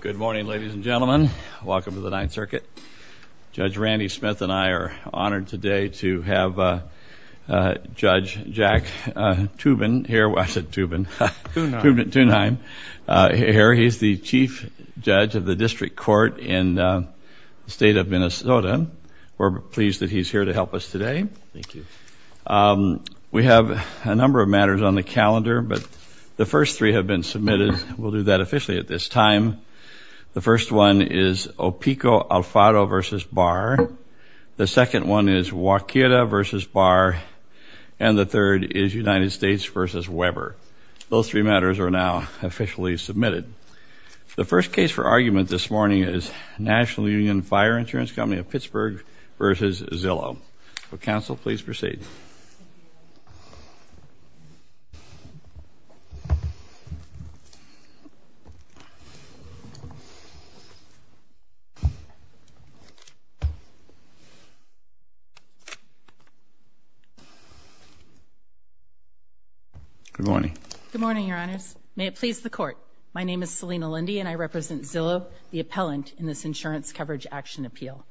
Good morning, ladies and gentlemen. Welcome to the Ninth Circuit. Judge Randy Smith and I are honored today to have Judge Jack Toobin here. I said Toobin. Toonheim. Toonheim here. He's the Chief Judge of the District Court in the state of Minnesota. We're pleased that he's here to help us today. Thank you. We have a number of matters on the calendar, but the first three have been submitted. We'll do that officially at this time. The first one is Opiko-Alfaro v. Barr. The second one is Wakeda v. Barr. And the third is United States v. Weber. Those three matters are now officially submitted. The first case for argument this morning is National Union Fire Insurance Company of Pittsburgh v. Zillow. Will counsel please proceed? Good morning. Good morning, Your Honors. May it please the Court. My name is Selina Lindy and I represent Zillow, the appellant in this insurance coverage action appeal.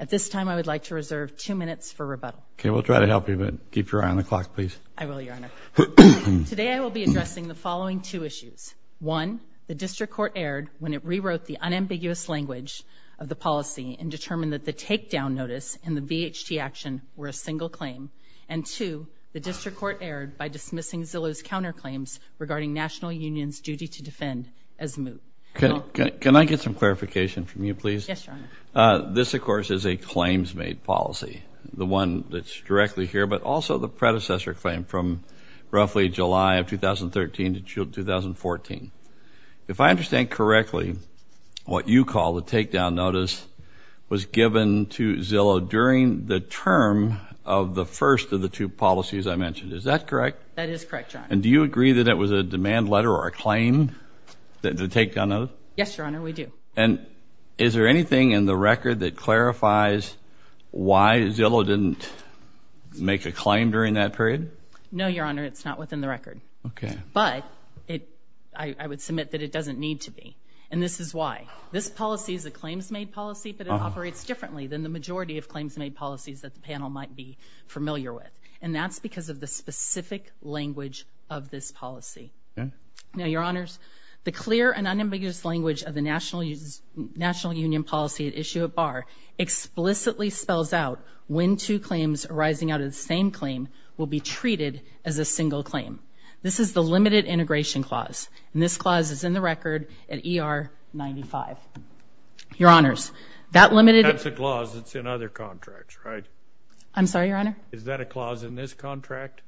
At this time, I would like to reserve two minutes for rebuttal. Okay, we'll try to help you, but keep your eye on the clock, please. I will, Your Honor. Today I will be addressing the following two issues. One, the District Court erred when it rewrote the unambiguous language of the policy and determined that the takedown notice and the VHT action were a single claim. And two, the District Court erred by dismissing Zillow's counterclaims regarding National Union's duty to defend as moot. Can I get some clarification from you, please? Yes, Your Honor. This, of course, is a claims-made policy, the one that's directly here, but also the predecessor claim from roughly July of 2013 to June of 2014. If I understand correctly, what you call the takedown notice was given to Zillow during the term of the first of the two policies I mentioned. Is that correct? That is correct, Your Honor. And do you agree that it was a demand letter or a claim, the takedown notice? Yes, Your Honor, we do. And is there anything in the record that clarifies why Zillow didn't make a claim during that period? No, Your Honor, it's not within the record. Okay. But I would submit that it doesn't need to be, and this is why. This policy is a claims-made policy, but it operates differently than the majority of claims-made policies that the panel might be familiar with, and that's because of the specific language of this policy. Okay. Now, Your Honors, the clear and unambiguous language of the national union policy at issue at bar explicitly spells out when two claims arising out of the same claim will be treated as a single claim. This is the limited integration clause, and this clause is in the record at ER 95. Your Honors, that limited – That's a clause that's in other contracts, right? I'm sorry, Your Honor? Is that a clause in this contract?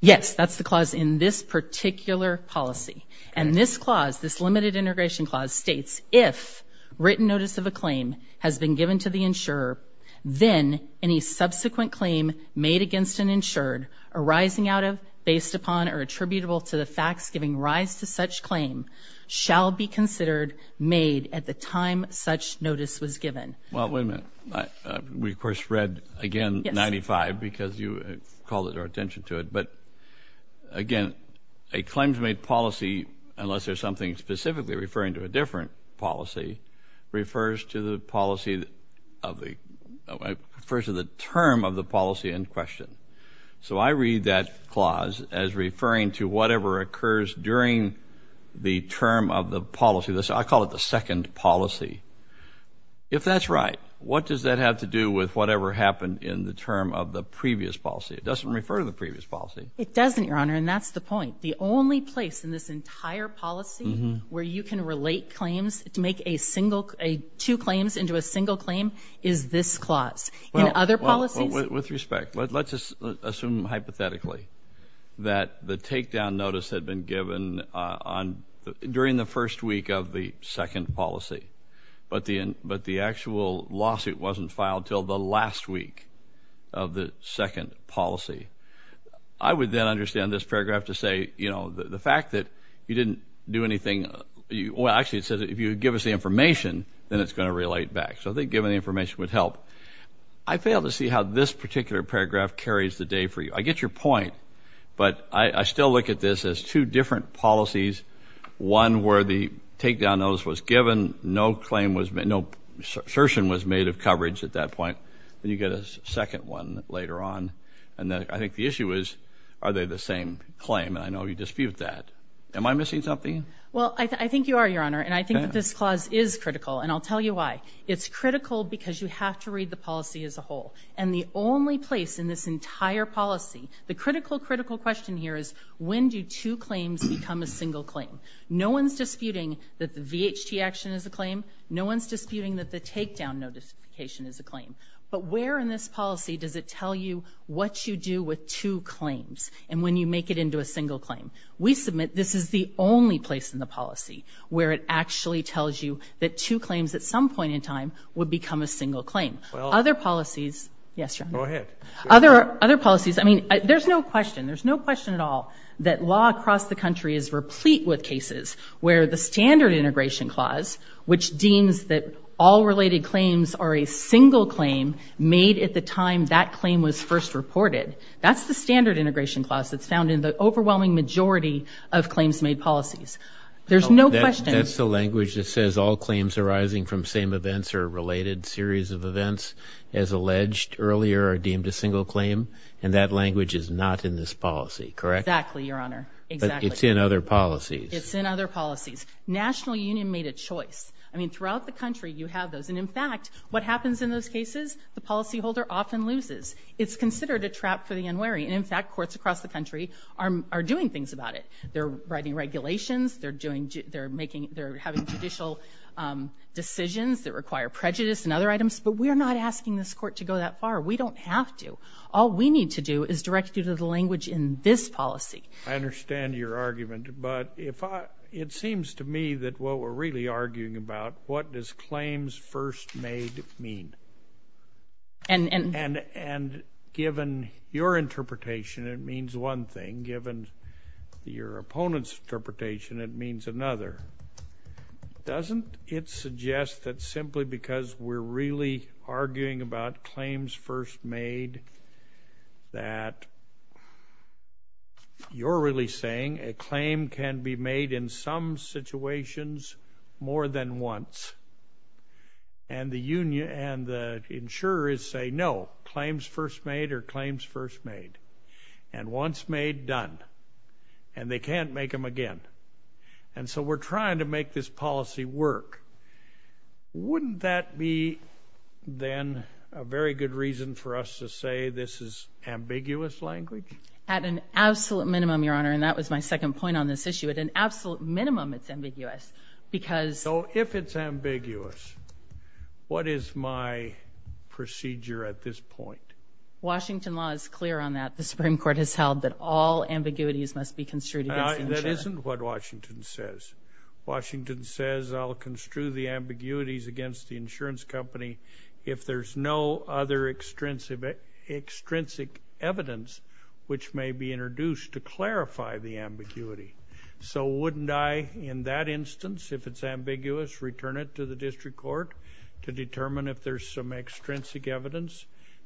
Yes, that's the clause in this particular policy. And this clause, this limited integration clause states, if written notice of a claim has been given to the insurer, then any subsequent claim made against an insured arising out of, based upon, or attributable to the facts giving rise to such claim shall be considered made at the time such notice was given. Well, wait a minute. We, of course, read, again, 95 because you called our attention to it. But, again, a claims-made policy, unless there's something specifically referring to a different policy, refers to the policy of the – refers to the term of the policy in question. So I read that clause as referring to whatever occurs during the term of the policy. I call it the second policy. If that's right, what does that have to do with whatever happened in the term of the previous policy? It doesn't refer to the previous policy. It doesn't, Your Honor, and that's the point. The only place in this entire policy where you can relate claims to make a single – two claims into a single claim is this clause. In other policies – Well, with respect, let's assume, hypothetically, that the takedown notice had been given on – during the first week of the second policy, but the actual lawsuit wasn't filed until the last week of the second policy. I would then understand this paragraph to say, you know, the fact that you didn't do anything – well, actually, it says if you give us the information, then it's going to relate back. So I think giving the information would help. I fail to see how this particular paragraph carries the day for you. I get your point, but I still look at this as two different policies, one where the takedown notice was given, no claim was – no assertion was made of coverage at that point, and you get a second one later on. And I think the issue is, are they the same claim? And I know you dispute that. Am I missing something? Well, I think you are, Your Honor, and I think that this clause is critical, and I'll tell you why. It's critical because you have to read the policy as a whole. And the only place in this entire policy – the critical, critical question here is, when do two claims become a single claim? No one's disputing that the VHT action is a claim. No one's disputing that the takedown notification is a claim. But where in this policy does it tell you what you do with two claims and when you make it into a single claim? We submit this is the only place in the policy where it actually tells you that two claims at some point in time would become a single claim. Other policies – yes, Your Honor. Go ahead. Other policies – I mean, there's no question. There's no question at all that law across the country is replete with cases where the standard integration clause, which deems that all related claims are a single claim, made at the time that claim was first reported, that's the standard integration clause that's found in the overwhelming majority of claims made policies. There's no question. But that's the language that says all claims arising from same events or related series of events as alleged earlier are deemed a single claim, and that language is not in this policy, correct? Exactly, Your Honor. But it's in other policies. It's in other policies. National Union made a choice. I mean, throughout the country you have those. And, in fact, what happens in those cases, the policyholder often loses. It's considered a trap for the unwary. And, in fact, courts across the country are doing things about it. They're writing regulations. They're having judicial decisions that require prejudice and other items. But we're not asking this court to go that far. We don't have to. All we need to do is direct you to the language in this policy. I understand your argument. But it seems to me that what we're really arguing about, what does claims first made mean? And given your interpretation, it means one thing. Given your opponent's interpretation, it means another. Doesn't it suggest that simply because we're really arguing about claims first made, that you're really saying a claim can be made in some situations more than once, and the insurer is saying, no, claims first made are claims first made. And once made, done. And they can't make them again. And so we're trying to make this policy work. Wouldn't that be, then, a very good reason for us to say this is ambiguous language? At an absolute minimum, Your Honor. And that was my second point on this issue. At an absolute minimum, it's ambiguous. So if it's ambiguous, what is my procedure at this point? Washington law is clear on that. The Supreme Court has held that all ambiguities must be construed against the insurer. That isn't what Washington says. Washington says I'll construe the ambiguities against the insurance company if there's no other extrinsic evidence which may be introduced to clarify the ambiguity. So wouldn't I, in that instance, if it's ambiguous, return it to the district court to determine if there's some extrinsic evidence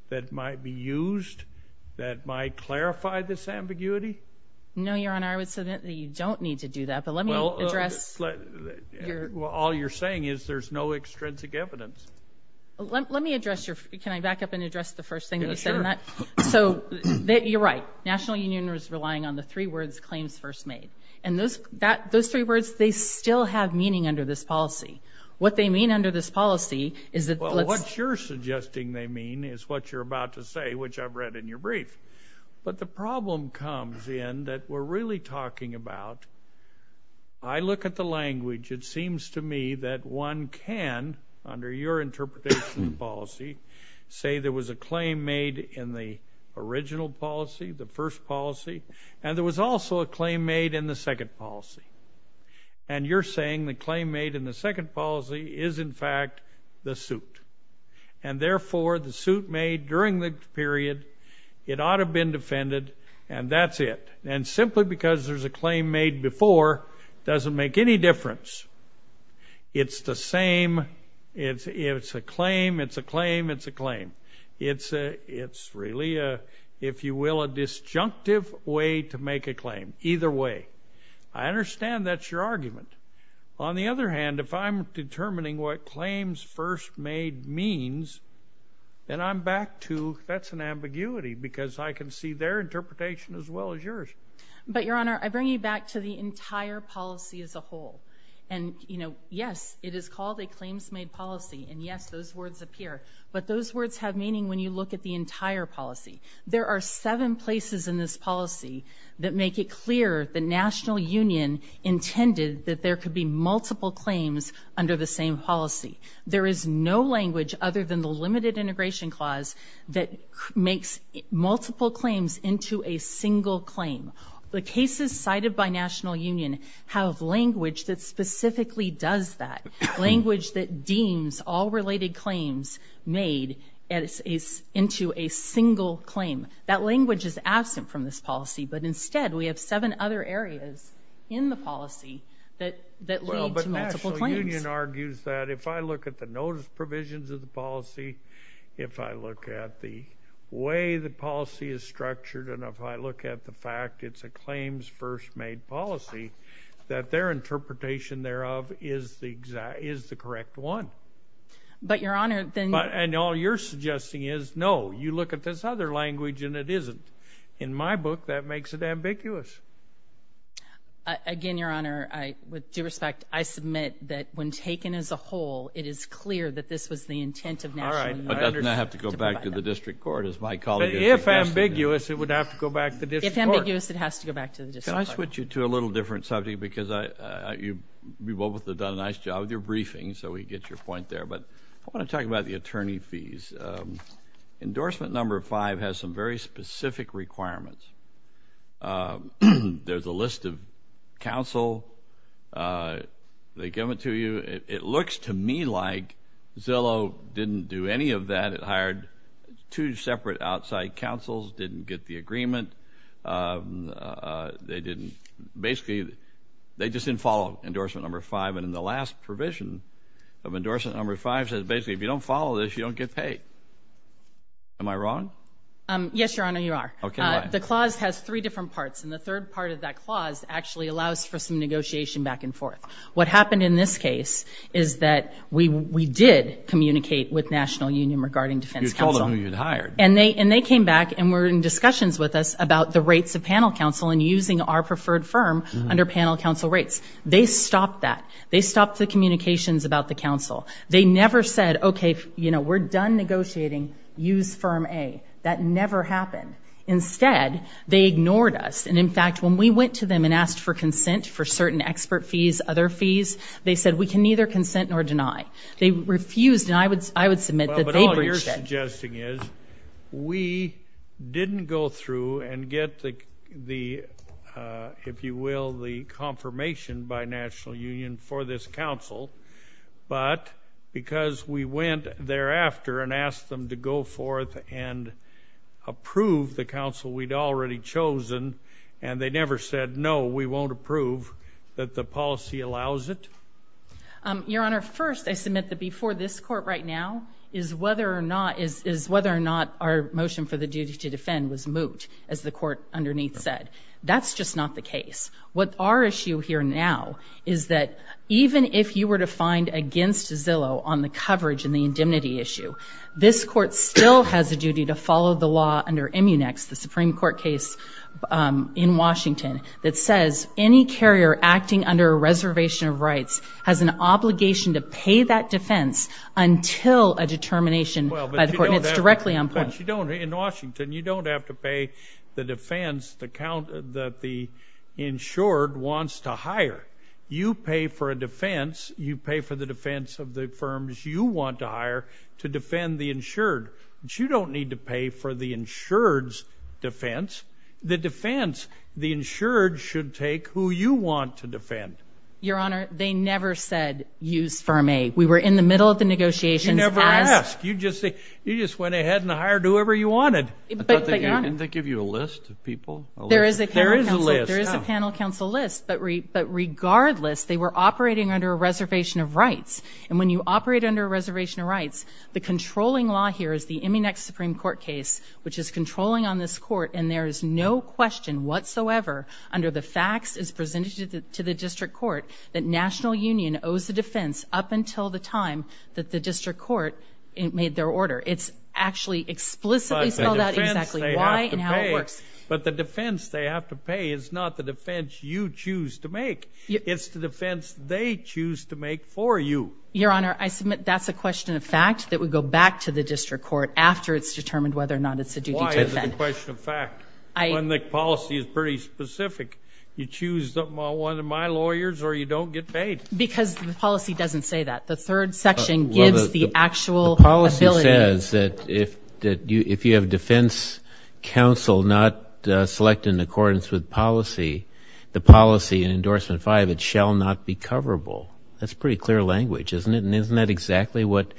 that might be used that might clarify this ambiguity? No, Your Honor. I would say that you don't need to do that. But let me address your... Well, all you're saying is there's no extrinsic evidence. Let me address your... Can I back up and address the first thing that you said? Sure. So you're right. The National Union is relying on the three words claims first made. And those three words, they still have meaning under this policy. What they mean under this policy is that... Well, what you're suggesting they mean is what you're about to say, which I've read in your brief. But the problem comes in that we're really talking about I look at the language. Say there was a claim made in the original policy, the first policy, and there was also a claim made in the second policy. And you're saying the claim made in the second policy is, in fact, the suit. And, therefore, the suit made during the period, it ought to have been defended, and that's it. And simply because there's a claim made before doesn't make any difference. It's the same. It's a claim, it's a claim, it's a claim. It's really, if you will, a disjunctive way to make a claim. Either way. I understand that's your argument. On the other hand, if I'm determining what claims first made means, then I'm back to that's an ambiguity because I can see their interpretation as well as yours. But, Your Honor, I bring you back to the entire policy as a whole. And, you know, yes, it is called a claims-made policy. And, yes, those words appear. But those words have meaning when you look at the entire policy. There are seven places in this policy that make it clear the national union intended that there could be multiple claims under the same policy. There is no language other than the limited integration clause that makes multiple claims into a single claim. The cases cited by national union have language that specifically does that, language that deems all related claims made into a single claim. That language is absent from this policy. But, instead, we have seven other areas in the policy that lead to multiple claims. Well, but national union argues that if I look at the notice provisions of the policy, if I look at the way the policy is structured, and if I look at the fact it's a claims-first-made policy, that their interpretation thereof is the correct one. But, Your Honor, then you... And all you're suggesting is, no, you look at this other language and it isn't. In my book, that makes it ambiguous. Again, Your Honor, with due respect, I submit that when taken as a whole, it is clear that this was the intent of national union... All right, but doesn't that have to go back to the district court, as my colleague... If ambiguous, it would have to go back to the district court. If ambiguous, it has to go back to the district court. Can I switch you to a little different subject? Because you both have done a nice job with your briefing, so we get your point there. But I want to talk about the attorney fees. Endorsement number five has some very specific requirements. There's a list of counsel. They give it to you. It looks to me like Zillow didn't do any of that. It hired two separate outside counsels, didn't get the agreement. They didn't... Basically, they just didn't follow endorsement number five. And in the last provision of endorsement number five, it says, basically, if you don't follow this, you don't get paid. Am I wrong? Yes, Your Honor, you are. Okay, why? The clause has three different parts, and the third part of that clause actually allows for some negotiation back and forth. What happened in this case is that we did communicate with National Union regarding defense counsel. You told them who you'd hired. And they came back and were in discussions with us about the rates of panel counsel and using our preferred firm under panel counsel rates. They stopped that. They stopped the communications about the counsel. They never said, okay, we're done negotiating, use firm A. That never happened. Instead, they ignored us. And, in fact, when we went to them and asked for consent for certain expert fees, other fees, they said we can neither consent nor deny. They refused, and I would submit that they breached that. Well, but all you're suggesting is we didn't go through and get the, if you will, the confirmation by National Union for this counsel, but because we went thereafter and asked them to go forth and approve the counsel we'd already chosen, and they never said, no, we won't approve, that the policy allows it? Your Honor, first, I submit that before this court right now is whether or not our motion for the duty to defend was moot, as the court underneath said. That's just not the case. What our issue here now is that even if you were to find against Zillow on the coverage and the indemnity issue, this court still has a duty to follow the law under Immunex, the Supreme Court case in Washington that says any carrier acting under a reservation of rights has an obligation to pay that defense until a determination by the court, and it's directly on point. You don't have to pay the defense that the insured wants to hire. You pay for a defense. You pay for the defense of the firms you want to hire to defend the insured, but you don't need to pay for the insured's defense. The defense the insured should take who you want to defend. Your Honor, they never said use firm A. We were in the middle of the negotiations. You never asked. You just went ahead and hired whoever you wanted. Didn't they give you a list of people? There is a panel counsel list, but regardless, they were operating under a reservation of rights, and when you operate under a reservation of rights, the controlling law here is the Immunex Supreme Court case, which is controlling on this court, and there is no question whatsoever under the facts as presented to the district court that National Union owes the defense up until the time that the district court made their order. It's actually explicitly spelled out exactly why and how it works. But the defense they have to pay is not the defense you choose to make. It's the defense they choose to make for you. Your Honor, I submit that's a question of fact that would go back to the district court after it's determined whether or not it's a duty to defend. Why is it a question of fact when the policy is pretty specific? You choose one of my lawyers or you don't get paid. Because the policy doesn't say that. The third section gives the actual ability. The policy says that if you have defense counsel not select in accordance with policy, the policy in Endorsement 5, it shall not be coverable. That's pretty clear language, isn't it? And isn't that exactly what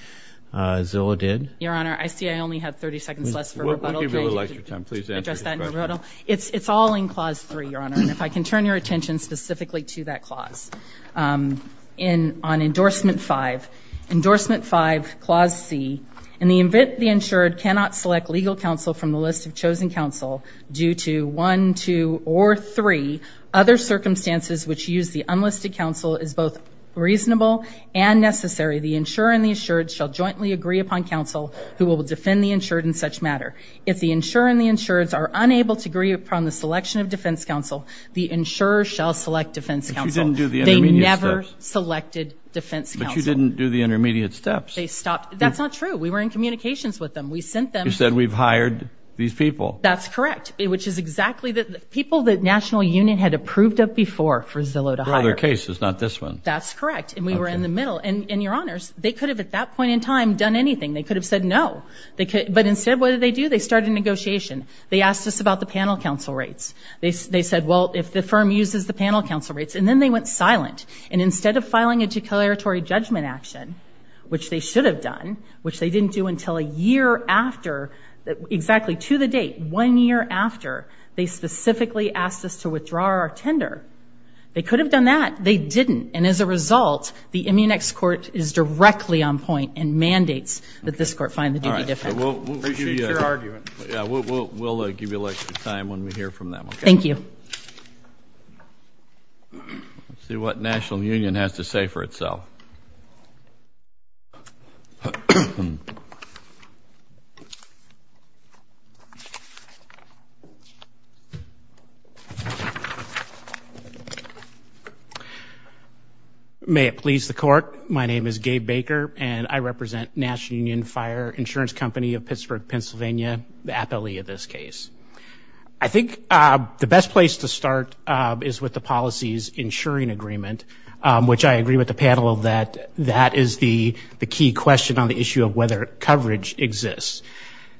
Zillow did? Your Honor, I see I only have 30 seconds less for rebuttal. We'll give you a little extra time. Please answer your question. It's all in Clause 3, Your Honor. And if I can turn your attention specifically to that clause on Endorsement 5. Endorsement 5, Clause C, in the event the insured cannot select legal counsel from the list of chosen counsel due to 1, 2, or 3 other circumstances which use the unlisted counsel is both reasonable and necessary, the insurer and the insured shall jointly agree upon counsel who will defend the insured in such matter. If the insurer and the insured are unable to agree upon the selection of defense counsel, the insurer shall select defense counsel. But you didn't do the intermediate steps. They never selected defense counsel. But you didn't do the intermediate steps. They stopped. That's not true. We were in communications with them. We sent them. You said we've hired these people. That's correct, which is exactly the people the National Union had approved of before for Zillow to hire. Well, their case is not this one. That's correct. And we were in the middle. And, Your Honors, they could have at that point in time done anything. They could have said no. But instead, what did they do? They started a negotiation. They asked us about the panel counsel rates. They said, well, if the firm uses the panel counsel rates, and then they went silent. And instead of filing a declaratory judgment action, which they should have done, which they didn't do until a year after exactly to the date, one year after, they specifically asked us to withdraw our tender. They could have done that. They didn't. And as a result, the Immunex court is directly on point and mandates that this court find the duty different. Appreciate your argument. We'll give you a little extra time when we hear from them. Thank you. Let's see what National Union has to say for itself. May it please the court. My name is Gabe Baker, and I represent National Union Fire Insurance Company of Pittsburgh, Pennsylvania, the appellee of this case. I think the best place to start is with the policies insuring agreement, which I agree with the panel that that is the key question on the issue of whether coverage exists.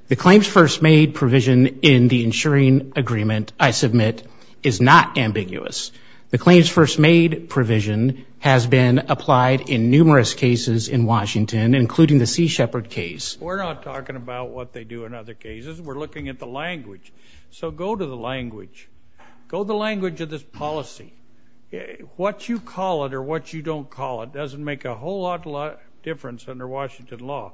The claims first made provision in the insuring agreement, I submit, is not ambiguous. The claims first made provision has been applied in numerous cases in Washington, including the Sea Shepherd case. We're not talking about what they do in other cases. We're looking at the language. So go to the language. Go to the language of this policy. What you call it or what you don't call it doesn't make a whole lot of difference under Washington law.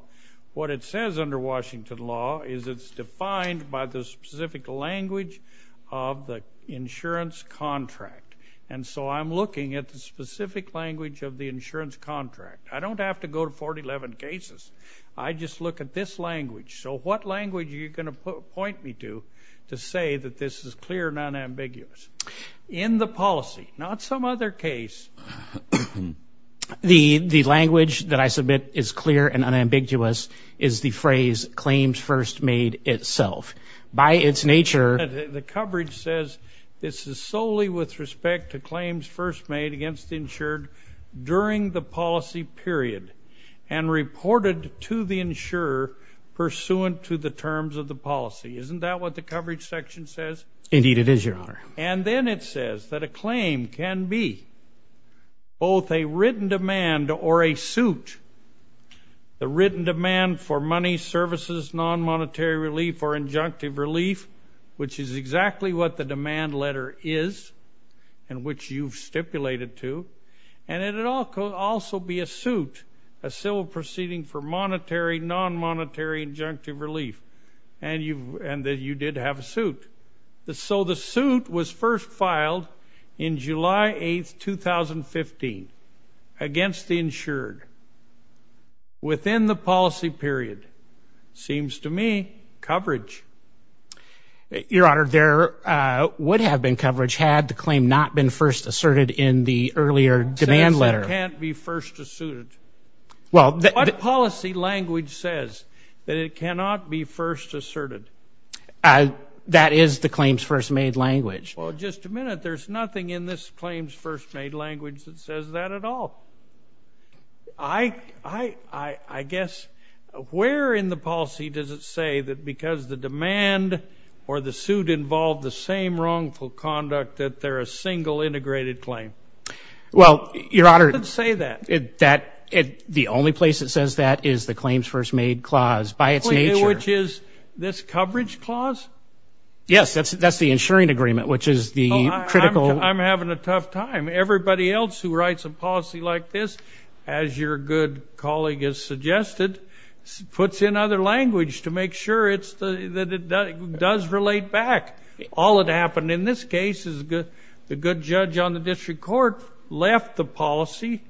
What it says under Washington law is it's defined by the specific language of the insurance contract. And so I'm looking at the specific language of the insurance contract. I don't have to go to 411 cases. I just look at this language. So what language are you going to point me to to say that this is clear and unambiguous? In the policy, not some other case. The language that I submit is clear and unambiguous is the phrase claims first made itself. By its nature, the coverage says this is solely with respect to claims first made against the insured during the policy period and reported to the insurer pursuant to the terms of the policy. Isn't that what the coverage section says? Indeed, it is, Your Honor. And then it says that a claim can be both a written demand or a suit. The written demand for money, services, non-monetary relief, or injunctive relief, which is exactly what the demand letter is and which you've stipulated to. And it could also be a suit, a civil proceeding for monetary, non-monetary, injunctive relief. And you did have a suit. So the suit was first filed in July 8, 2015 against the insured within the policy period. Seems to me coverage. Your Honor, there would have been coverage had the claim not been first asserted in the earlier demand letter. It says it can't be first suited. What policy language says that it cannot be first asserted? That is the claims first made language. Well, just a minute, there's nothing in this claims first made language that says that at all. I guess, where in the policy does it say that because the demand or the suit involved the same wrongful conduct that they're a single integrated claim? Well, Your Honor. It doesn't say that. The only place it says that is the claims first made clause by its nature. Which is this coverage clause? Yes, that's the insuring agreement, which is the critical. I'm having a tough time. Everybody else who writes a policy like this, as your good colleague has suggested, puts in other language to make sure that it does relate back. All that happened in this case is the good judge on the district court left the policy,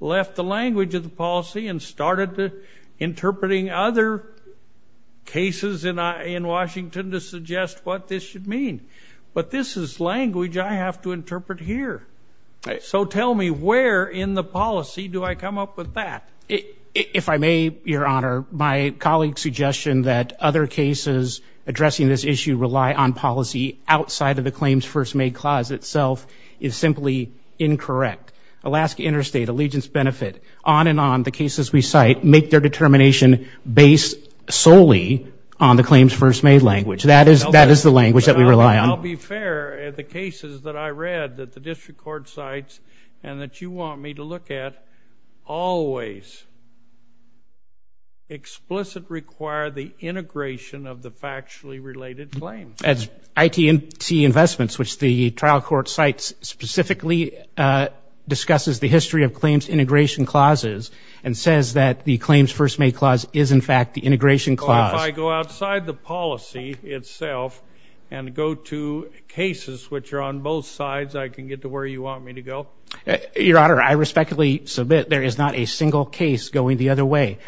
left the language of the policy, and started interpreting other cases in Washington to suggest what this should mean. But this is language I have to interpret here. So tell me, where in the policy do I come up with that? If I may, Your Honor, my colleague's suggestion that other cases addressing this issue rely on policy outside of the claims first made clause itself is simply incorrect. Alaska Interstate, Allegiance Benefit, on and on, the cases we cite, make their determination based solely on the claims first made language. That is the language that we rely on. I'll be fair. The cases that I read that the district court cites and that you want me to look at always explicitly require the integration of the factually related claims. That's ITC Investments, which the trial court cites specifically discusses the history of claims integration clauses and says that the claims first made clause is, in fact, the integration clause. If I go outside the policy itself and go to cases which are on both sides, I can get to where you want me to go? Your Honor, I respectfully submit there is not a single case going the other way.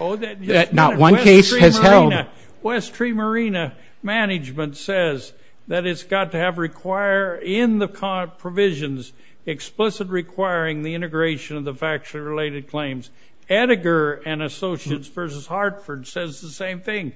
Not one case has held. West Tree Marina Management says that it's got to have require in the provisions explicitly requiring the integration of the factually related claims. Attiger and Associates versus Hartford says the same thing.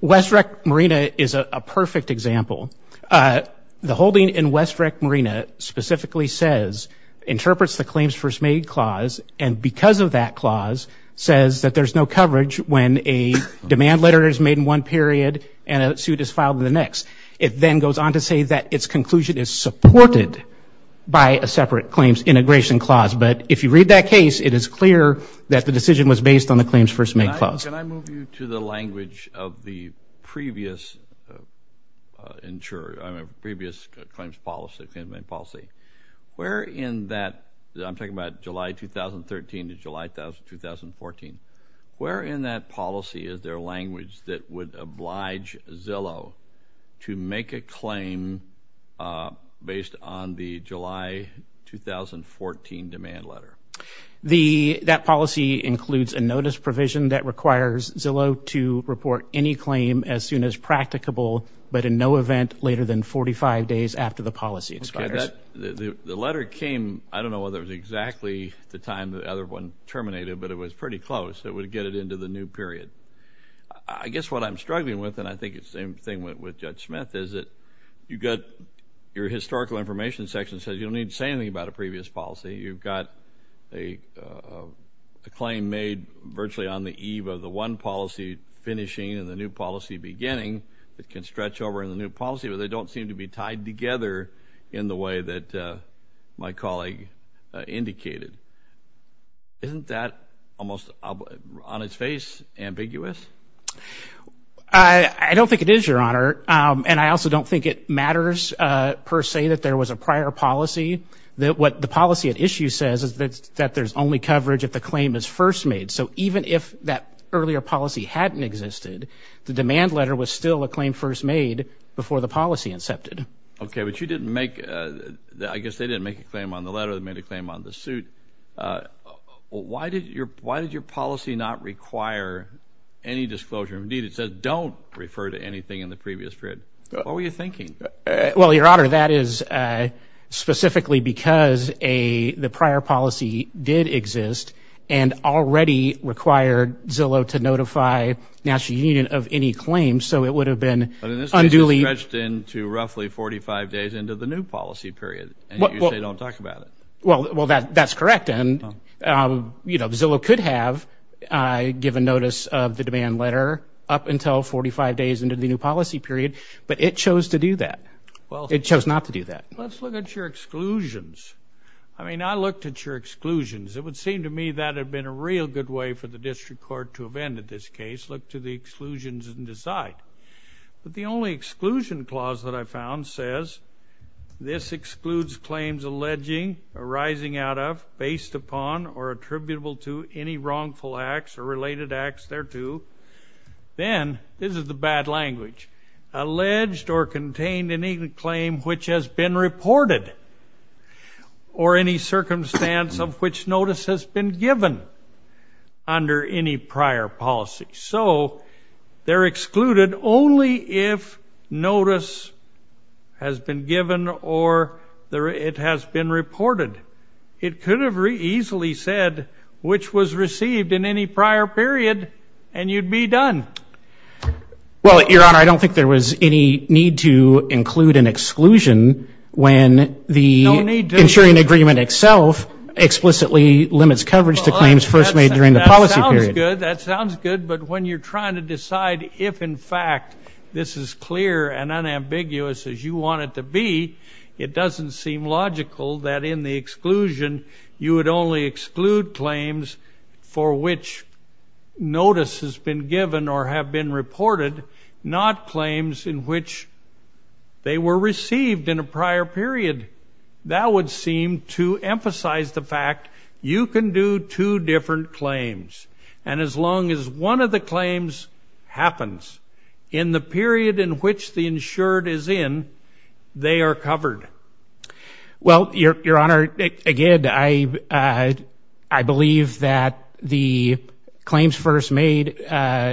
West Rec Marina is a perfect example. The holding in West Rec Marina specifically says, interprets the claims first made clause, and because of that clause says that there's no coverage when a demand letter is made in one period and a suit is filed in the next. It then goes on to say that its conclusion is supported by a separate claims integration clause. But if you read that case, it is clear that the decision was based on the claims first made clause. Can I move you to the language of the previous claims policy? Where in that, I'm talking about July 2013 to July 2014, where in that policy is there language that would oblige Zillow to make a claim based on the July 2014 demand letter? That policy includes a notice provision that requires Zillow to report any claim as soon as practicable, but in no event later than 45 days after the policy expires. The letter came, I don't know whether it was exactly the time the other one terminated, but it was pretty close. It would get it into the new period. I guess what I'm struggling with, and I think it's the same thing with Judge Smith, is that you've got your historical information section says you don't need to say anything about a previous policy. You've got a claim made virtually on the eve of the one policy finishing and the new policy beginning that can stretch over in the new policy, but they don't seem to be tied together in the way that my colleague indicated. Isn't that almost on its face ambiguous? I don't think it is, Your Honor, and I also don't think it matters per se that there was a prior policy. What the policy at issue says is that there's only coverage if the claim is first made. So even if that earlier policy hadn't existed, the demand letter was still a claim first made before the policy incepted. Okay, but you didn't make, I guess they didn't make a claim on the letter. They made a claim on the suit. Why did your policy not require any disclosure? Indeed, it says don't refer to anything in the previous period. What were you thinking? Well, Your Honor, that is specifically because the prior policy did exist and already required Zillow to notify the National Union of any claims, so it would have been unduly But in this case, it stretched into roughly 45 days into the new policy period, and you say don't talk about it. Well, that's correct, and, you know, Zillow could have given notice of the demand letter up until 45 days into the new policy period, but it chose to do that. It chose not to do that. Let's look at your exclusions. I mean, I looked at your exclusions. It would seem to me that had been a real good way for the district court to have ended this case, look to the exclusions and decide. But the only exclusion clause that I found says this excludes claims alleging, arising out of, based upon, or attributable to any wrongful acts or related acts thereto. Then, this is the bad language, alleged or contained any claim which has been reported or any circumstance of which notice has been given under any prior policy. So they're excluded only if notice has been given or it has been reported. It could have easily said which was received in any prior period, and you'd be done. Well, Your Honor, I don't think there was any need to include an exclusion when the insuring agreement itself explicitly limits coverage to claims first made during the policy period. That sounds good, but when you're trying to decide if, in fact, this is clear and unambiguous as you want it to be, it doesn't seem logical that in the exclusion you would only exclude claims for which notice has been given or have been reported, not claims in which they were received in a prior period. That would seem to emphasize the fact you can do two different claims, and as long as one of the claims happens in the period in which the insured is in, they are covered. Well, Your Honor, again, I believe that the claims first made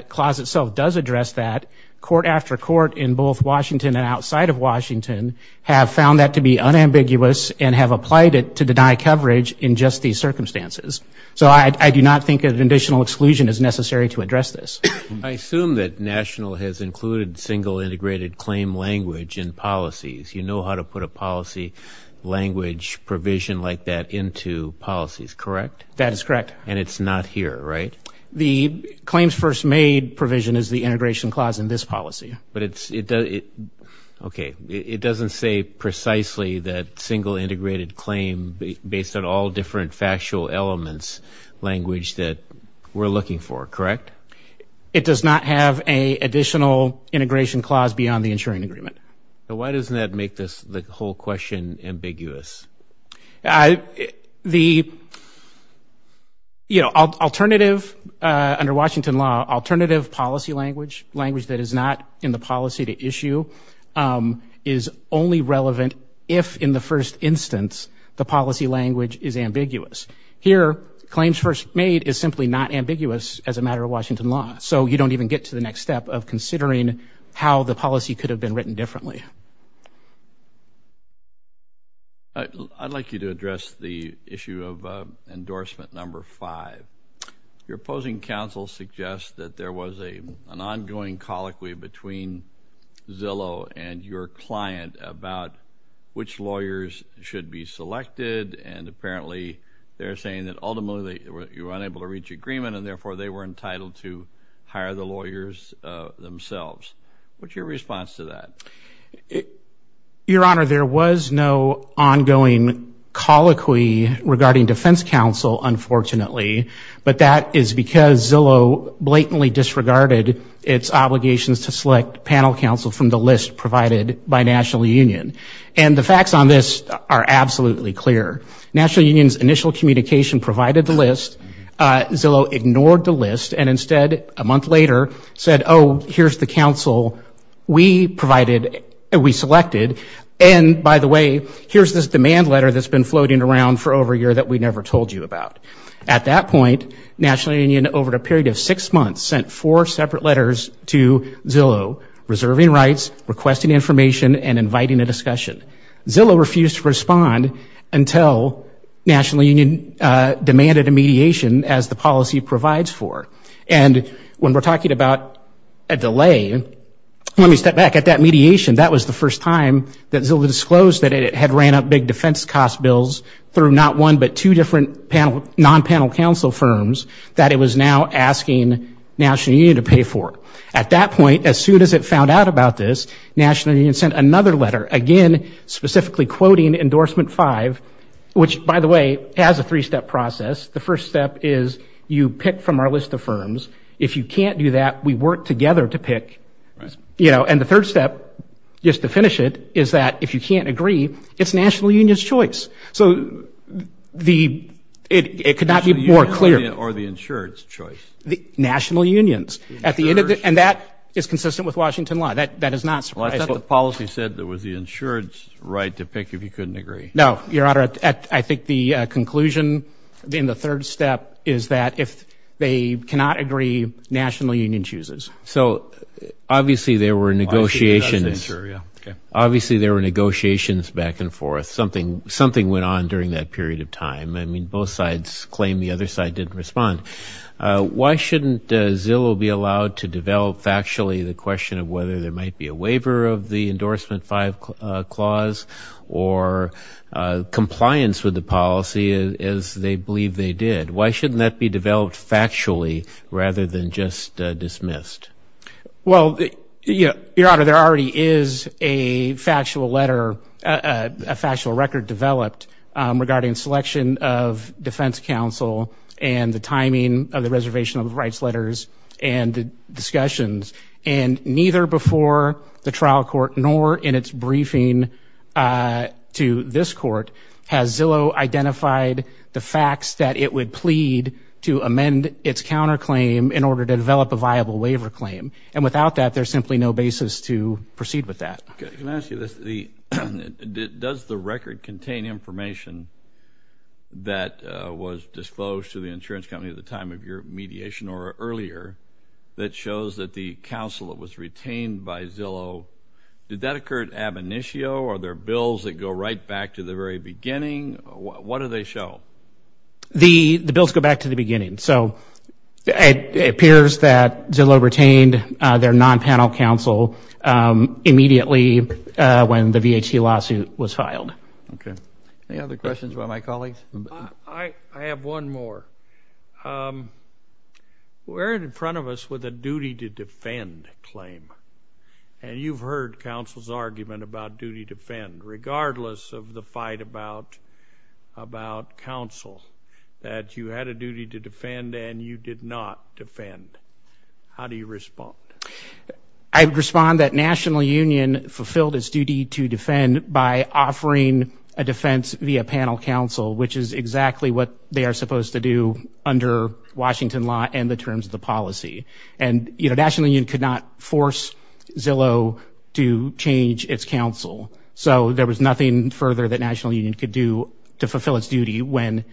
clause itself does address that. Court after court in both Washington and outside of Washington have found that to be unambiguous and have applied it to deny coverage in just these circumstances. So I do not think an additional exclusion is necessary to address this. I assume that National has included single integrated claim language in policies. You know how to put a policy language provision like that into policies, correct? That is correct. And it's not here, right? The claims first made provision is the integration clause in this policy. But it's, okay, it doesn't say precisely that single integrated claim based on all different factual elements language that we're looking for, correct? It does not have an additional integration clause beyond the insuring agreement. So why doesn't that make the whole question ambiguous? The, you know, alternative under Washington law, alternative policy language, language that is not in the policy to issue is only relevant if, in the first instance, the policy language is ambiguous. Here, claims first made is simply not ambiguous as a matter of Washington law. So you don't even get to the next step of considering how the policy could have been written differently. I'd like you to address the issue of endorsement number five. Your opposing counsel suggests that there was an ongoing colloquy between Zillow and your client about which lawyers should be selected, and apparently they're saying that ultimately you were unable to reach agreement and therefore they were entitled to hire the lawyers themselves. What's your response to that? Your Honor, there was no ongoing colloquy regarding defense counsel, unfortunately, but that is because Zillow blatantly disregarded its obligations to select panel counsel from the list provided by National Union. And the facts on this are absolutely clear. National Union's initial communication provided the list. Zillow ignored the list and instead, a month later, said, oh, here's the counsel we provided, we selected, and by the way, here's this demand letter that's been floating around for over a year that we never told you about. At that point, National Union, over a period of six months, sent four separate letters to Zillow, reserving rights, requesting information, and inviting a discussion. Zillow refused to respond until National Union demanded a mediation as the policy provides for. And when we're talking about a delay, let me step back. At that mediation, that was the first time that Zillow disclosed that it had ran up big defense cost bills through not one but two different non-panel counsel firms that it was now asking National Union to pay for. At that point, as soon as it found out about this, National Union sent another letter, again, specifically quoting Endorsement 5, which, by the way, has a three-step process. The first step is you pick from our list of firms. If you can't do that, we work together to pick. You know, and the third step, just to finish it, is that if you can't agree, it's National Union's choice. So it could not be more clear. Or the insured's choice. National Union's. And that is consistent with Washington law. That is not surprising. Well, isn't that what policy said, that it was the insured's right to pick if you couldn't agree? No, Your Honor. I think the conclusion in the third step is that if they cannot agree, National Union chooses. So obviously there were negotiations. Obviously there were negotiations back and forth. Something went on during that period of time. I mean, both sides claim the other side didn't respond. Why shouldn't Zillow be allowed to develop factually the question of whether there might be a waiver of the Endorsement 5 clause or compliance with the policy as they believe they did? Why shouldn't that be developed factually rather than just dismissed? Well, Your Honor, there already is a factual letter, a factual record, developed regarding selection of defense counsel and the timing of the reservation of the rights letters and discussions. And neither before the trial court nor in its briefing to this court has Zillow identified the facts that it would plead to amend its counterclaim in order to develop a viable waiver claim. And without that, there's simply no basis to proceed with that. Okay. Can I ask you this? Does the record contain information that was disclosed to the insurance company at the time of your mediation or earlier that shows that the counsel that was retained by Zillow, did that occur at ab initio or are there bills that go right back to the very beginning? What do they show? The bills go back to the beginning. So it appears that Zillow retained their non-panel counsel immediately when the VHT lawsuit was filed. Okay. Any other questions about my colleagues? I have one more. We're in front of us with a duty to defend claim, and you've heard counsel's argument about duty to defend, regardless of the fight about counsel, that you had a duty to defend and you did not defend. How do you respond? I respond that National Union fulfilled its duty to defend by offering a defense via panel counsel, which is exactly what they are supposed to do under Washington law and the terms of the policy. And, you know, National Union could not force Zillow to change its counsel. So there was nothing further that National Union could do to fulfill its duty when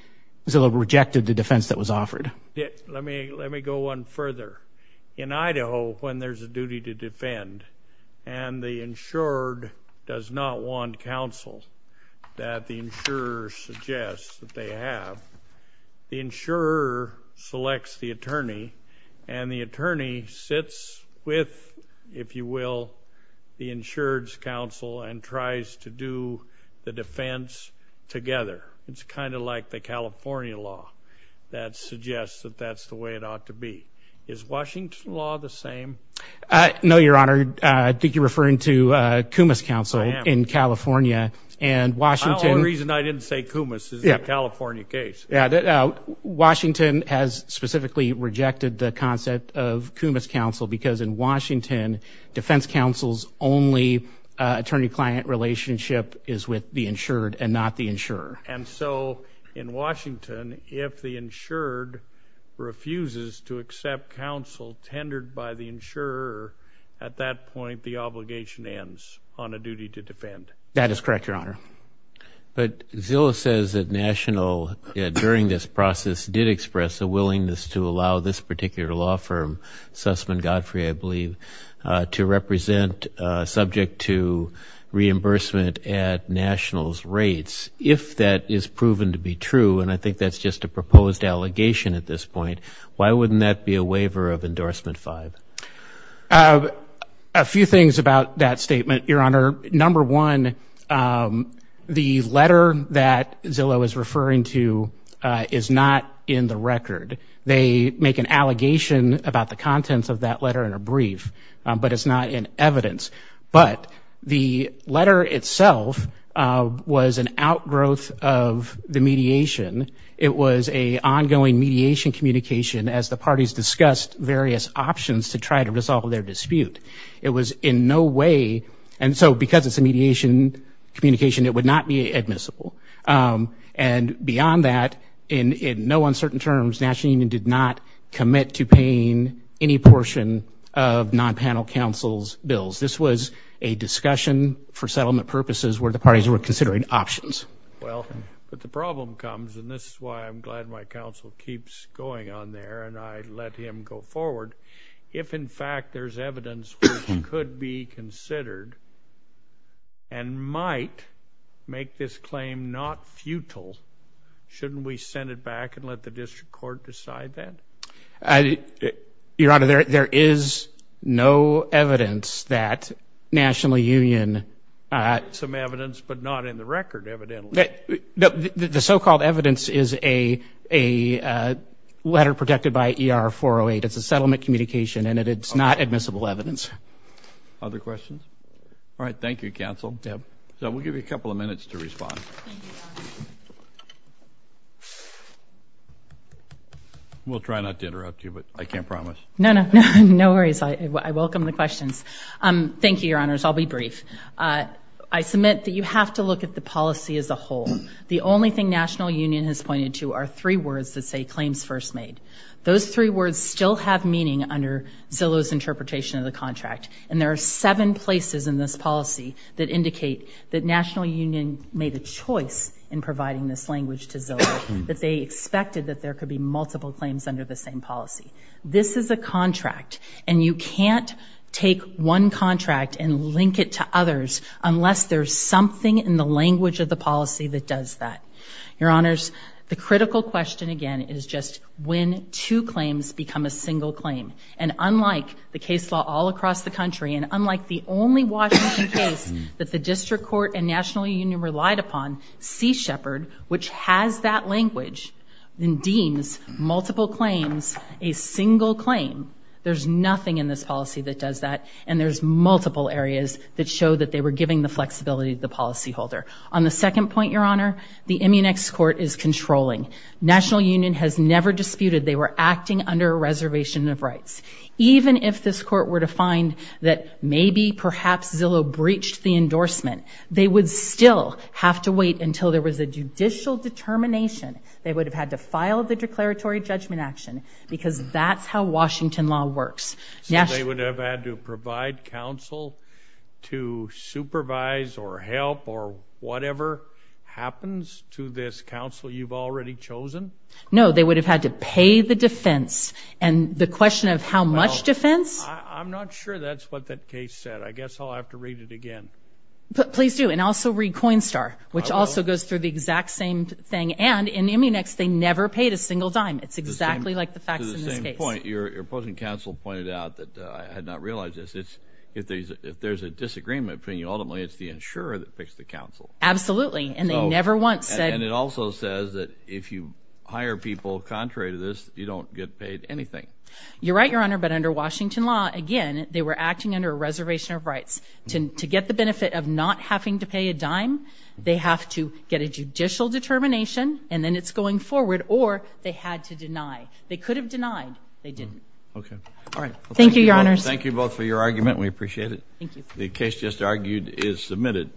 Zillow rejected the defense that was offered. Let me go one further. In Idaho, when there's a duty to defend and the insured does not want counsel that the insurer suggests that they have, the insurer selects the attorney, and the attorney sits with, if you will, the insured's counsel and tries to do the defense together. It's kind of like the California law that suggests that that's the way it ought to be. Is Washington law the same? No, Your Honor. I think you're referring to Kumis counsel in California. The only reason I didn't say Kumis is the California case. Yeah. Washington has specifically rejected the concept of Kumis counsel because in Washington, defense counsel's only attorney-client relationship is with the insured and not the insurer. And so in Washington, if the insured refuses to accept counsel tendered by the insurer, that is correct, Your Honor. But Zillow says that National, during this process, did express a willingness to allow this particular law firm, Sussman Godfrey, I believe, to represent subject to reimbursement at National's rates. If that is proven to be true, and I think that's just a proposed allegation at this point, why wouldn't that be a waiver of Endorsement 5? A few things about that statement, Your Honor. Number one, the letter that Zillow is referring to is not in the record. They make an allegation about the contents of that letter in a brief, but it's not in evidence. But the letter itself was an outgrowth of the mediation. It was an ongoing mediation communication as the parties discussed various options to try to resolve their dispute. It was in no way, and so because it's a mediation communication, it would not be admissible. And beyond that, in no uncertain terms, National Union did not commit to paying any portion of non-panel counsel's bills. This was a discussion for settlement purposes where the parties were considering options. Well, but the problem comes, and this is why I'm glad my counsel keeps going on there and I let him go forward, if in fact there's evidence which could be considered and might make this claim not futile, shouldn't we send it back and let the district court decide that? Your Honor, there is no evidence that National Union- Some evidence, but not in the record, evidently. The so-called evidence is a letter protected by ER 408. It's a settlement communication, and it's not admissible evidence. Other questions? All right, thank you, counsel. We'll give you a couple of minutes to respond. We'll try not to interrupt you, but I can't promise. No, no, no worries. Thank you, Your Honors. I'll be brief. I submit that you have to look at the policy as a whole. The only thing National Union has pointed to are three words that say claims first made. Those three words still have meaning under Zillow's interpretation of the contract, and there are seven places in this policy that indicate that National Union made a choice in providing this language to Zillow, that they expected that there could be multiple claims under the same policy. This is a contract, and you can't take one contract and link it to others unless there's something in the language of the policy that does that. Your Honors, the critical question, again, is just when two claims become a single claim. And unlike the case law all across the country, and unlike the only Washington case that the District Court and National Union relied upon, Sea Shepherd, which has that language, deems multiple claims a single claim. There's nothing in this policy that does that, and there's multiple areas that show that they were giving the flexibility to the policyholder. On the second point, Your Honor, the Immunex court is controlling. National Union has never disputed they were acting under a reservation of rights. Even if this court were to find that maybe, perhaps, Zillow breached the endorsement, they would still have to wait until there was a judicial determination. They would have had to file the declaratory judgment action, because that's how Washington law works. So they would have had to provide counsel to supervise or help or whatever happens to this counsel you've already chosen? No, they would have had to pay the defense, and the question of how much defense? I'm not sure that's what that case said. I guess I'll have to read it again. Please do, and also read Coinstar, which also goes through the exact same thing. And in the Immunex, they never paid a single dime. It's exactly like the facts in this case. To the same point, your opposing counsel pointed out that I had not realized this. If there's a disagreement between you, ultimately it's the insurer that picks the counsel. Absolutely, and they never once said— And it also says that if you hire people contrary to this, you don't get paid anything. You're right, Your Honor, but under Washington law, again, they were acting under a reservation of rights. To get the benefit of not having to pay a dime, they have to get a judicial determination, and then it's going forward, or they had to deny. They could have denied. They didn't. Okay. All right. Thank you, Your Honors. Thank you both for your argument. We appreciate it. The case just argued is submitted.